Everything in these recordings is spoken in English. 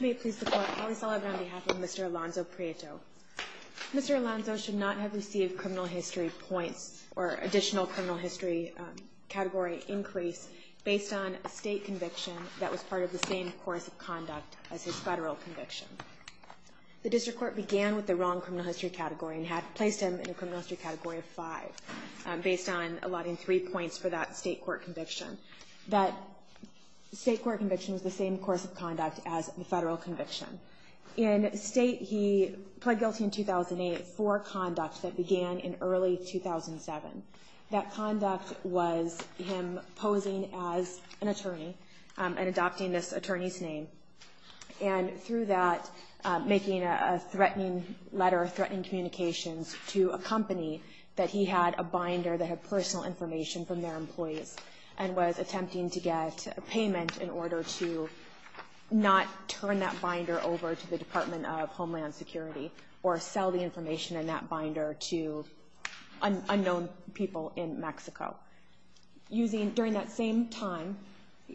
May it please the Court, Holly Sullivan on behalf of Mr. Alonso-Prieto. Mr. Alonso should not have received criminal history points or additional criminal history category increase based on a state conviction that was part of the same course of conduct as his federal conviction. The District Court began with the wrong criminal history category and had placed him in a criminal history category of 5 based on allotting 3 points for that state court conviction. That state court conviction was the same course of conduct as the federal conviction. In state he pled guilty in 2008 for conduct that began in early 2007. That conduct was him posing as an attorney and adopting this attorney's name and through that making a threatening letter, threatening communications to a company that he had a binder that had personal information from their employees and was attempting to get a payment in order to not turn that binder over to the Department of Homeland Security or sell the information in that binder to unknown people in Mexico. During that same time,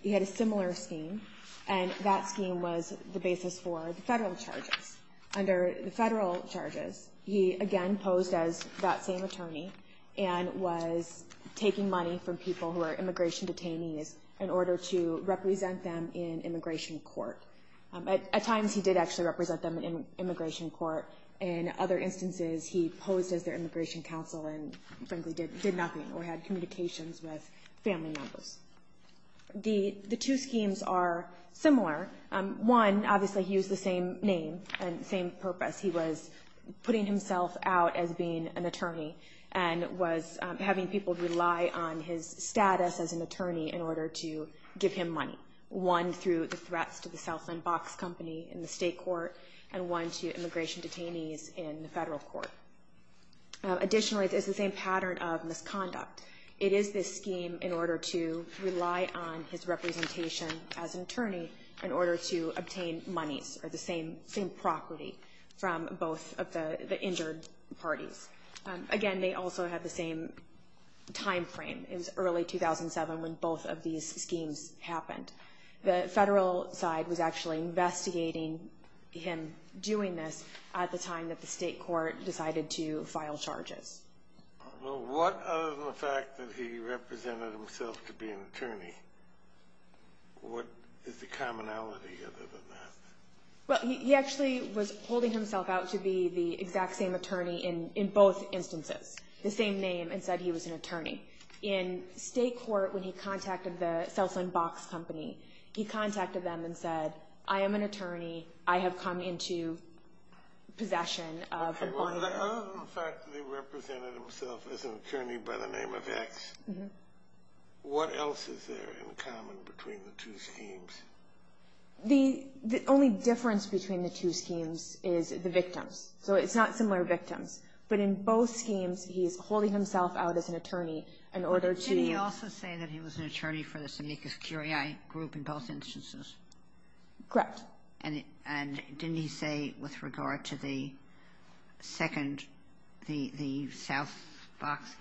he had a similar scheme and that scheme was the basis for the federal charges. Under the federal charges, he again posed as that same attorney and was taking money from people who were immigration detainees in order to represent them in immigration court. At times he did actually represent them in immigration court. In other instances, he posed as their immigration counsel and frankly did nothing or had communications with family members. The two schemes are similar. One, obviously he used the same name and the same purpose. He was putting himself out as being an attorney and was having people rely on his status as an attorney in order to give him money. One through the threats to the Southland Box Company in the state court and one to immigration detainees in the federal court. Additionally, there's the same pattern of misconduct. It is this scheme in order to rely on his representation as an attorney in order to obtain monies or the same property from both of the injured parties. Again, they also had the same time frame. It was early 2007 when both of these schemes happened. The federal side was actually investigating him doing this at the time that the state court decided to file charges. Well, what other than the fact that he represented himself to be an attorney, what is the commonality other than that? Well, he actually was holding himself out to be the exact same attorney in both instances. The same name and said he was an attorney. In state court, when he contacted the Southland Box Company, he contacted them and said, I am an attorney. I have come into possession of money. Other than the fact that he represented himself as an attorney by the name of X, what else is there in common between the two schemes? The only difference between the two is that he is an attorney. So it's not similar victims. But in both schemes, he is holding himself out as an attorney in order to... But didn't he also say that he was an attorney for this amicus curiae group in both instances? Correct. And didn't he say with regard to the Southland Box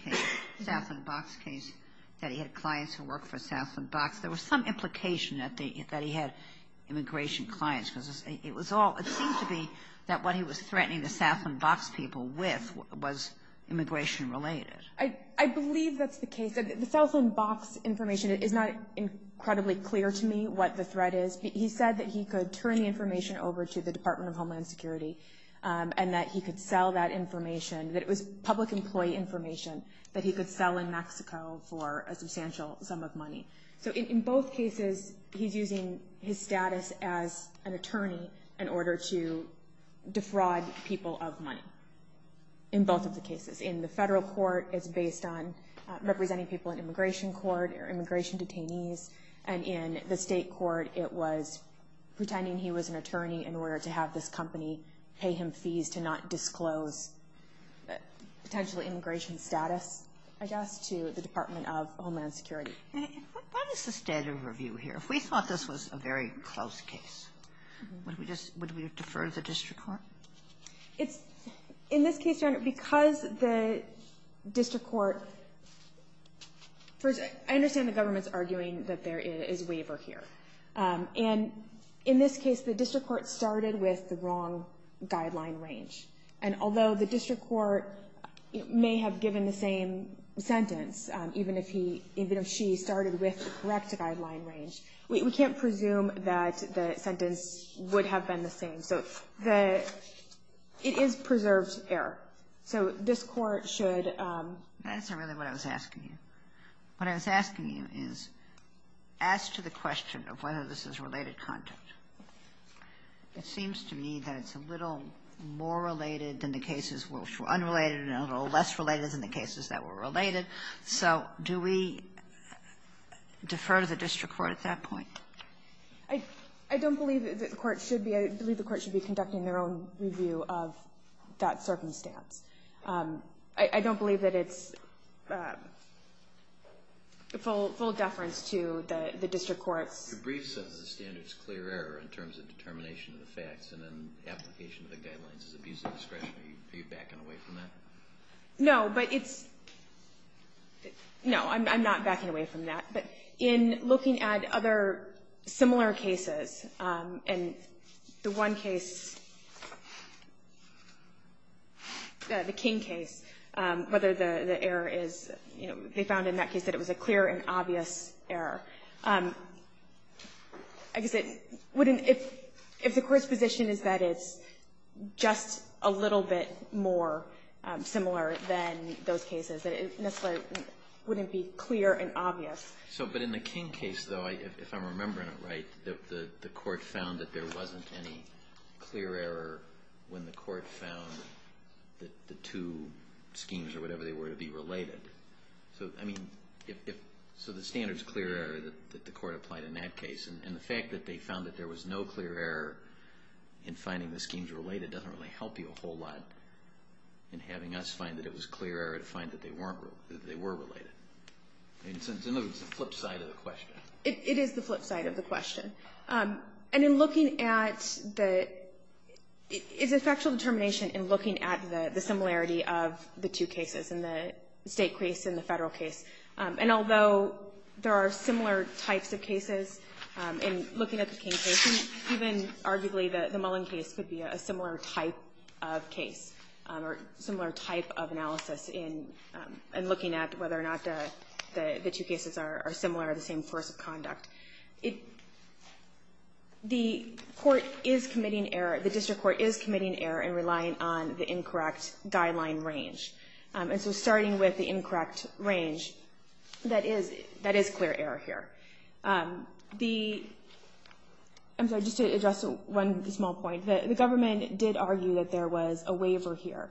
case that he had clients who worked for Southland Box? There was some implication that he had immigration clients. It seemed to be that what he was threatening the Southland Box people with was immigration related. I believe that's the case. The Southland Box information is not incredibly clear to me what the threat is. He said that he could turn the information over to the Department of Homeland Security and that he could sell that information, that it was public employee information that he could sell in Mexico for a substantial sum of money. So in both cases, he's using his status as an attorney in order to defraud people of money in both of the cases. In the federal court, it's based on representing people in immigration court or immigration detainees. And in the state court, it was pretending he was an attorney in order to have this company pay him fees to not disclose potentially immigration status, I guess, to the Department of Homeland Security. What is the standard review here? If we thought this was a very close case, would we defer to the district court? In this case, because the district court, I understand the government's arguing that there is waiver here. And in this case, the district court started with the wrong guideline range. And although the district court may have given the same sentence, even if he, even if she started with the correct guideline range, we can't presume that the sentence would have been the same. So the – it is preserved error. So this court should – That's not really what I was asking you. What I was asking you is, as to the question of whether this is related content, it seems to me that it's a little more related than the cases which were unrelated and a little less related than the cases that were related. So do we defer to the district court at that point? I don't believe that the court should be – I believe the court should be conducting their own review of that circumstance. I don't believe that it's full deference to the district court's – Your brief says the standard's clear error in terms of determination of the facts and application of the guidelines is abuse of discretion. Are you backing away from that? No, but it's – no, I'm not backing away from that. But in looking at other similar cases, and the one case – the King case, whether the error is – they found in that case that it was a clear and obvious error. I guess it wouldn't – if the court's position is that it's just a little bit more similar than those cases, it wouldn't be clear and obvious. But in the King case, though, if I'm remembering it right, the court found that there wasn't any clear error when the court found the two schemes or whatever they were to be related. So the standard's clear error that the court applied in that case. And the fact that they found that there was no clear error in finding the schemes related doesn't really help you a whole lot in having us find that it was clear error to find that they weren't – that they were related. In other words, it's the flip side of the question. It is the flip side of the question. And in looking at the – it's a factual determination in looking at the similarity of the two cases, in the State case and the Federal case. And although there are similar types of cases, in looking at the King case, even arguably the Mullen case could be a similar type of case or similar type of analysis in looking at whether or not the two cases are similar or the same course of conduct. The court is committing error – the district court is committing error in relying on the incorrect guideline range. And so starting with the incorrect range, that is clear error here. The – I'm sorry, just to address one small point. The government did argue that there was a waiver here.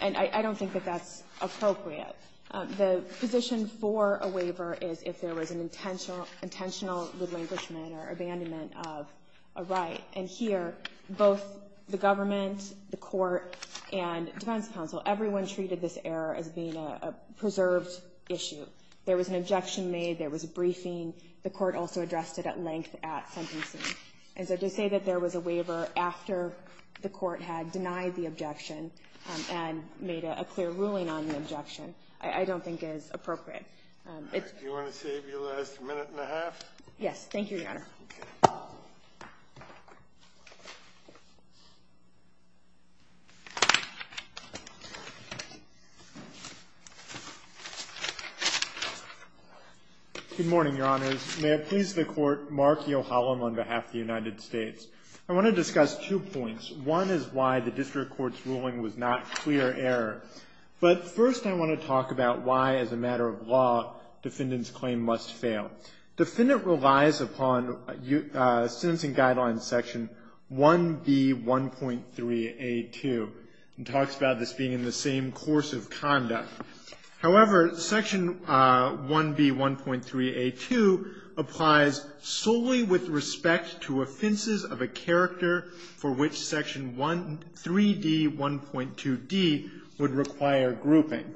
And I don't think that that's appropriate. The position for a waiver is if there was an intentional relinquishment or abandonment of a right. And here, both the government, the court, and defense counsel, everyone treated this error as being a preserved issue. There was an objection made. There was a briefing. The court also addressed it at length at sentencing. And so to say that there was a waiver after the court had denied the objection and made a clear ruling on the objection, I don't think is appropriate. It's – Do you want to save your last minute and a half? Yes. Thank you, Your Honor. Okay. Good morning, Your Honors. May it please the Court, Mark Yohalam on behalf of the United States. I want to discuss two points. One is why the district court's ruling was not clear error. But first, I want to talk about why, as a matter of law, defendant's claim must fail. Defendant relies upon sentencing guideline section 1B1.3A2. It talks about this being in the same course of conduct. However, section 1B1.3A2 applies solely with respect to offenses of a character for which section 3D1.2D would require grouping.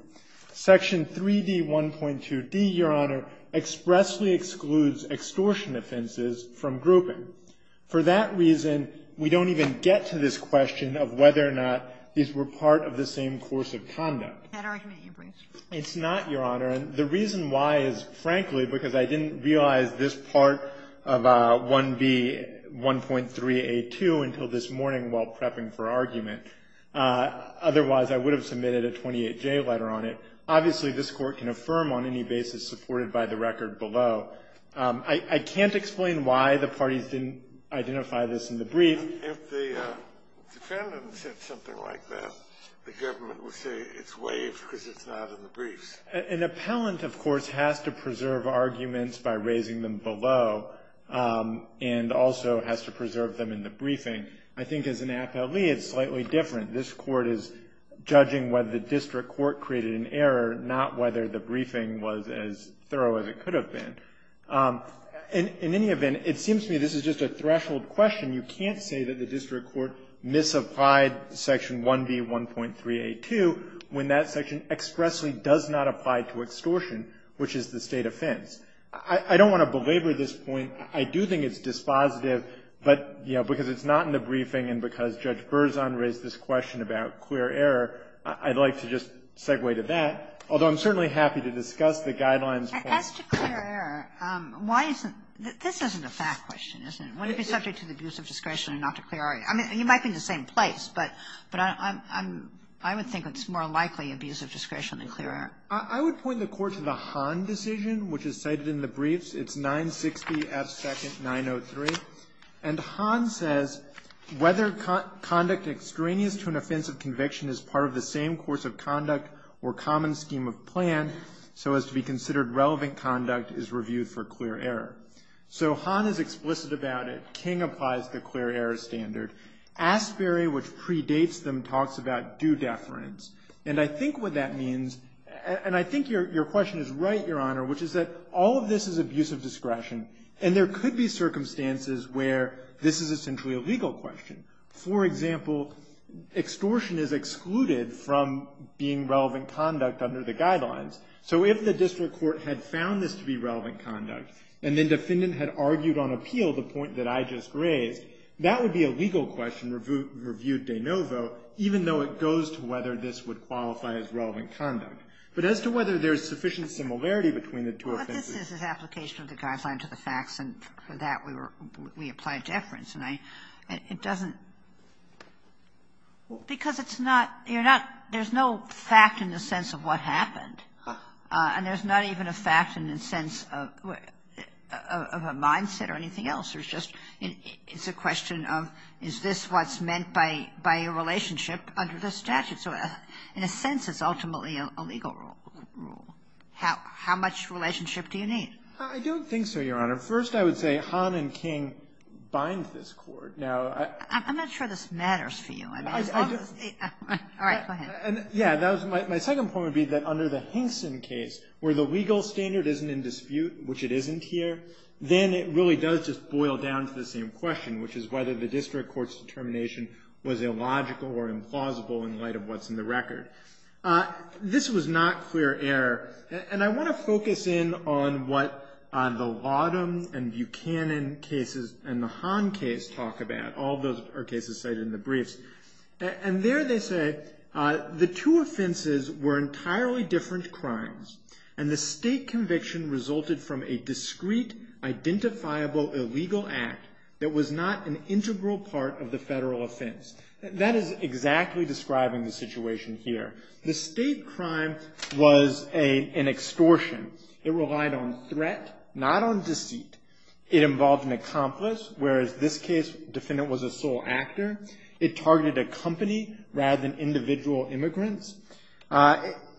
Section 3D1.2D, Your Honor, expressly excludes extortion offenses from grouping. For that reason, we don't even get to this question of whether or not these were part of the same course of conduct. That argument you bring is true. It's not, Your Honor. And the reason why is, frankly, because I didn't realize this part of 1B1.3A2 until this morning while prepping for argument. Otherwise, I would have submitted a 28J letter on it. Obviously, this Court can affirm on any basis supported by the record below. I can't explain why the parties didn't identify this in the brief. If the defendant said something like that, the government would say it's waived because it's not in the briefs. An appellant, of course, has to preserve arguments by raising them below and also has to preserve them in the briefing. I think as an appellee, it's slightly different. This Court is judging whether the district court created an error, not whether the briefing was as thorough as it could have been. In any event, it seems to me this is just a threshold question. You can't say that the district court misapplied Section 1B1.3A2 when that section expressly does not apply to extortion, which is the state offense. I don't want to belabor this point. I do think it's dispositive, but, you know, because it's not in the briefing and because Judge Berzon raised this question about clear error, I'd like to just segue to that, although I'm certainly happy to discuss the guidelines. Kagan. As to clear error, why isn't this isn't a fact question, is it? Would it be subject to the abuse of discretion or not to clear error? I mean, you might be in the same place, but I would think it's more likely abuse of discretion than clear error. I would point the Court to the Hahn decision, which is cited in the briefs. It's 960F2nd903. And Hahn says, whether conduct extraneous to an offense of conviction is part of the same course of conduct or common scheme of plan so as to be considered relevant conduct is reviewed for clear error. So Hahn is explicit about it. King applies the clear error standard. Asbury, which predates them, talks about due deference. And I think what that means, and I think your question is right, Your Honor, which is that all of this is abuse of discretion, and there could be circumstances where this is essentially a legal question. For example, extortion is excluded from being relevant conduct under the guidelines. So if the district court had found this to be relevant conduct and then defendant had argued on appeal the point that I just raised, that would be a legal question reviewed de novo, even though it goes to whether this would qualify as relevant conduct. But as to whether there is sufficient similarity between the two offenses. Kagan. Well, this is an application of the Guideline to the Facts, and for that we were we applied deference. And it doesn't – because it's not – you're not – there's no fact in the sense of what happened. And there's not even a fact in the sense of a mindset or anything else. There's just – it's a question of is this what's meant by a relationship under the statute. So in a sense, it's ultimately a legal rule. How much relationship do you need? I don't think so, Your Honor. First, I would say Hahn and King bind this court. Now, I – I'm not sure this matters for you. All right. Go ahead. Yeah. My second point would be that under the Hinkson case, where the legal standard isn't in dispute, which it isn't here, then it really does just boil down to the same question, which is whether the district court's determination was illogical or implausible in light of what's in the record. This was not clear error. And I want to focus in on what the Laudam and Buchanan cases and the Hahn case talk about. All those are cases cited in the briefs. And there they say, the two offenses were entirely different crimes, and the state conviction resulted from a discrete, identifiable, illegal act that was not an integral part of the federal offense. That is exactly describing the situation here. The state crime was an extortion. It relied on threat, not on deceit. It involved an accomplice, whereas this case, the defendant was a sole actor. It targeted a company rather than individual immigrants.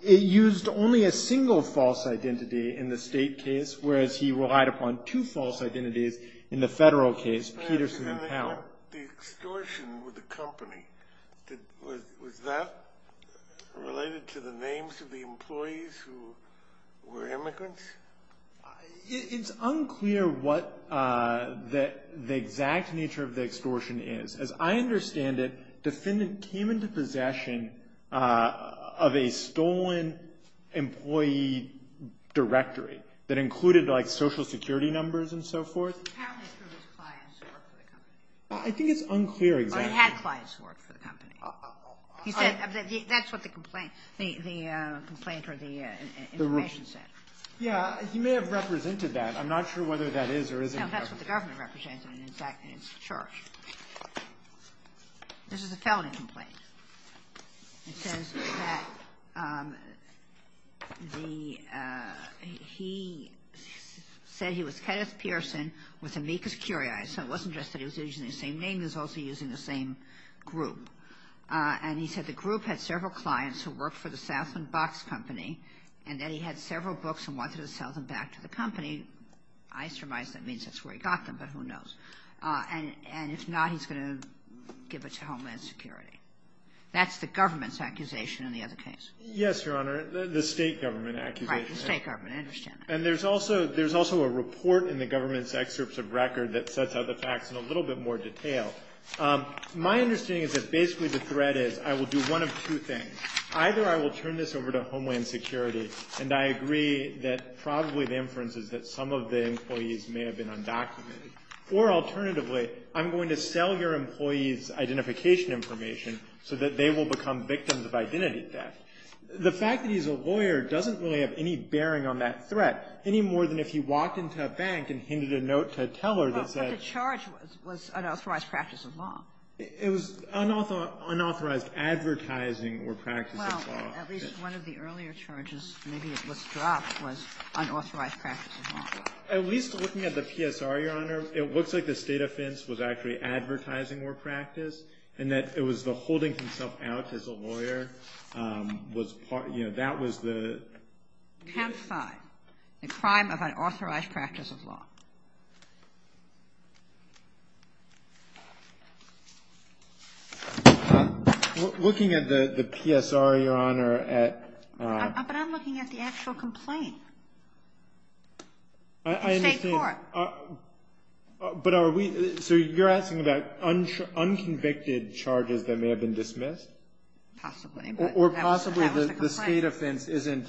It used only a single false identity in the state case, whereas he relied upon two false identities in the federal case, Peterson and Powell. The extortion with the company, was that related to the names of the employees who were immigrants? It's unclear what the exact nature of the extortion is. As I understand it, the defendant came into possession of a stolen employee directory that included, like, Social Security numbers and so forth. I think it's unclear exactly. He had clients who worked for the company. He said that's what the complaint, the complaint or the information said. Yeah. He may have represented that. I'm not sure whether that is or isn't. No, that's what the government represented, and, in fact, it's the church. This is a felony complaint. It says that the he said he was Kenneth Pearson with Amicus Curiae. So it wasn't just that he was using the same name. He was also using the same group. And he said the group had several clients who worked for the Southman Box Company and that he had several books and wanted to sell them back to the company. I surmise that means that's where he got them, but who knows. And if not, he's going to give it to Homeland Security. That's the government's accusation in the other case. Yes, Your Honor. The State government accusation. Right. The State government. I understand that. And there's also a report in the government's excerpts of record that sets out the facts in a little bit more detail. My understanding is that basically the threat is I will do one of two things. Either I will turn this over to Homeland Security, and I agree that probably the inference is that some of the employees may have been undocumented. Or alternatively, I'm going to sell your employees identification information so that they will become victims of identity theft. The fact that he's a lawyer doesn't really have any bearing on that threat, any more than if he walked into a bank and hinted a note to a teller that said ---- But the charge was unauthorized practice of law. It was unauthorized advertising or practice of law. At least one of the earlier charges, maybe it was dropped, was unauthorized practice of law. At least looking at the PSR, Your Honor, it looks like the State offense was actually advertising or practice, and that it was the holding himself out as a lawyer was part of ---- you know, that was the ---- Temp 5, the crime of unauthorized practice of law. Looking at the PSR, Your Honor, at ---- But I'm looking at the actual complaint. I understand. The State court. But are we ---- so you're asking about unconvicted charges that may have been dismissed? Possibly. Or possibly the State offense isn't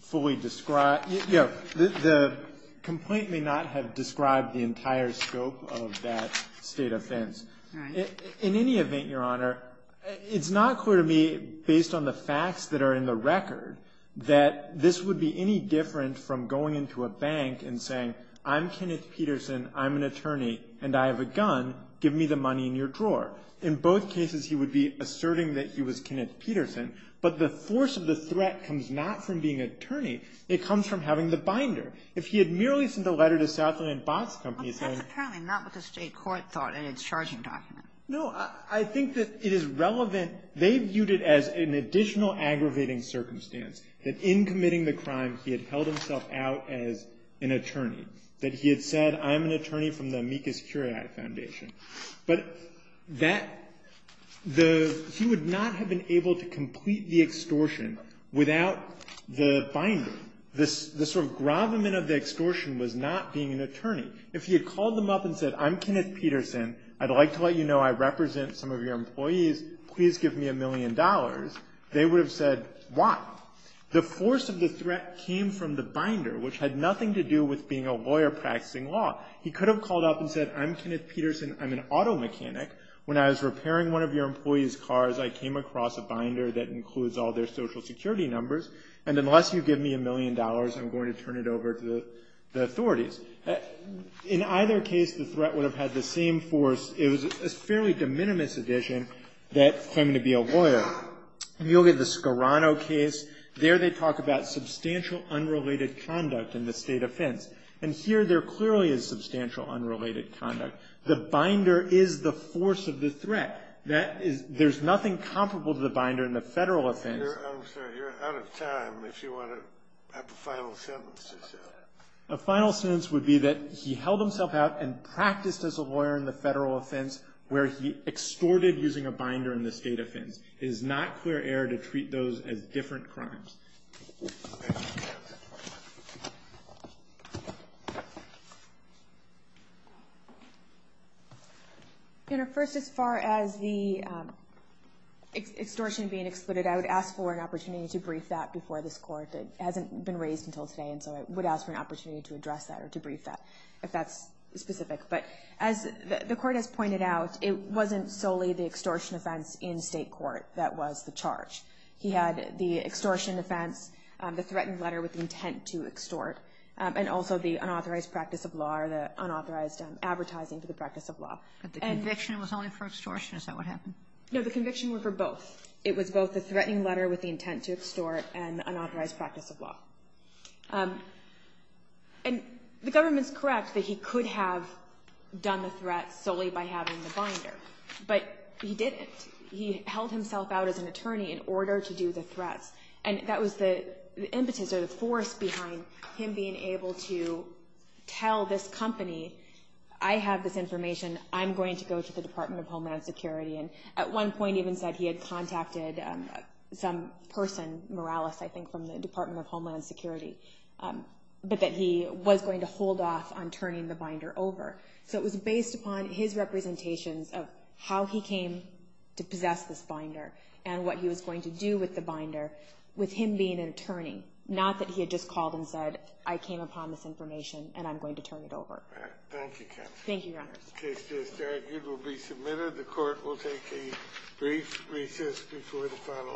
fully described. The complaint may not have described the entire scope of that State offense. Right. In any event, Your Honor, it's not clear to me, based on the facts that are in the record, that this would be any different from going into a bank and saying, I'm Kenneth Peterson, I'm an attorney, and I have a gun. Give me the money in your drawer. In both cases, he would be asserting that he was Kenneth Peterson. But the force of the threat comes not from being attorney. It comes from having the binder. If he had merely sent a letter to Southland Botts Company saying ---- Well, that's apparently not what the State court thought in its charging document. No. I think that it is relevant. They viewed it as an additional aggravating circumstance, that in committing the crime, he had held himself out as an attorney, that he had said, I'm an attorney from the Amicus Curiae Foundation. But that the ---- he would not have been able to The sort of gravamen of the extortion was not being an attorney. If he had called them up and said, I'm Kenneth Peterson, I'd like to let you know I represent some of your employees, please give me a million dollars, they would have said, why? The force of the threat came from the binder, which had nothing to do with being a lawyer practicing law. He could have called up and said, I'm Kenneth Peterson, I'm an auto mechanic. When I was repairing one of your employees' cars, I came across a binder that I'm going to turn it over to the authorities. In either case, the threat would have had the same force. It was a fairly de minimis addition that claiming to be a lawyer. If you look at the Scarano case, there they talk about substantial unrelated conduct in the State offense. And here there clearly is substantial unrelated conduct. The binder is the force of the threat. That is ---- there's nothing comparable to the binder in the Federal offense. I'm sorry, you're out of time. If you want to have a final sentence or something. A final sentence would be that he held himself out and practiced as a lawyer in the Federal offense where he extorted using a binder in the State offense. It is not clear error to treat those as different crimes. First, as far as the extortion being excluded, I would ask for an opportunity to brief that before this Court. It hasn't been raised until today, and so I would ask for an opportunity to address that or to brief that, if that's specific. But as the Court has pointed out, it wasn't solely the extortion offense in State court that was the charge. He had the extortion offense, the threatened letter with the intent to extort, and also the unauthorized practice of law or the unauthorized advertising to the practice of law. And the conviction was only for extortion? Is that what happened? No, the conviction was for both. It was both the threatening letter with the intent to extort and the unauthorized practice of law. And the government's correct that he could have done the threat solely by having the binder. But he didn't. He held himself out as an attorney in order to do the threats. And that was the impetus or the force behind him being able to tell this company, I have this information, I'm going to go to the Department of Homeland Security. And at one point even said he had contacted some person, Morales, I think, from the Department of Homeland Security, but that he was going to hold off on turning the binder over. So it was based upon his representations of how he came to possess this binder and what he was going to do with the binder with him being an attorney, not that he had just called and said, I came upon this information, and I'm going to turn it over. Thank you, counsel. Thank you, Your Honor. The case just argued will be submitted. The Court will take a brief recess before the final argument.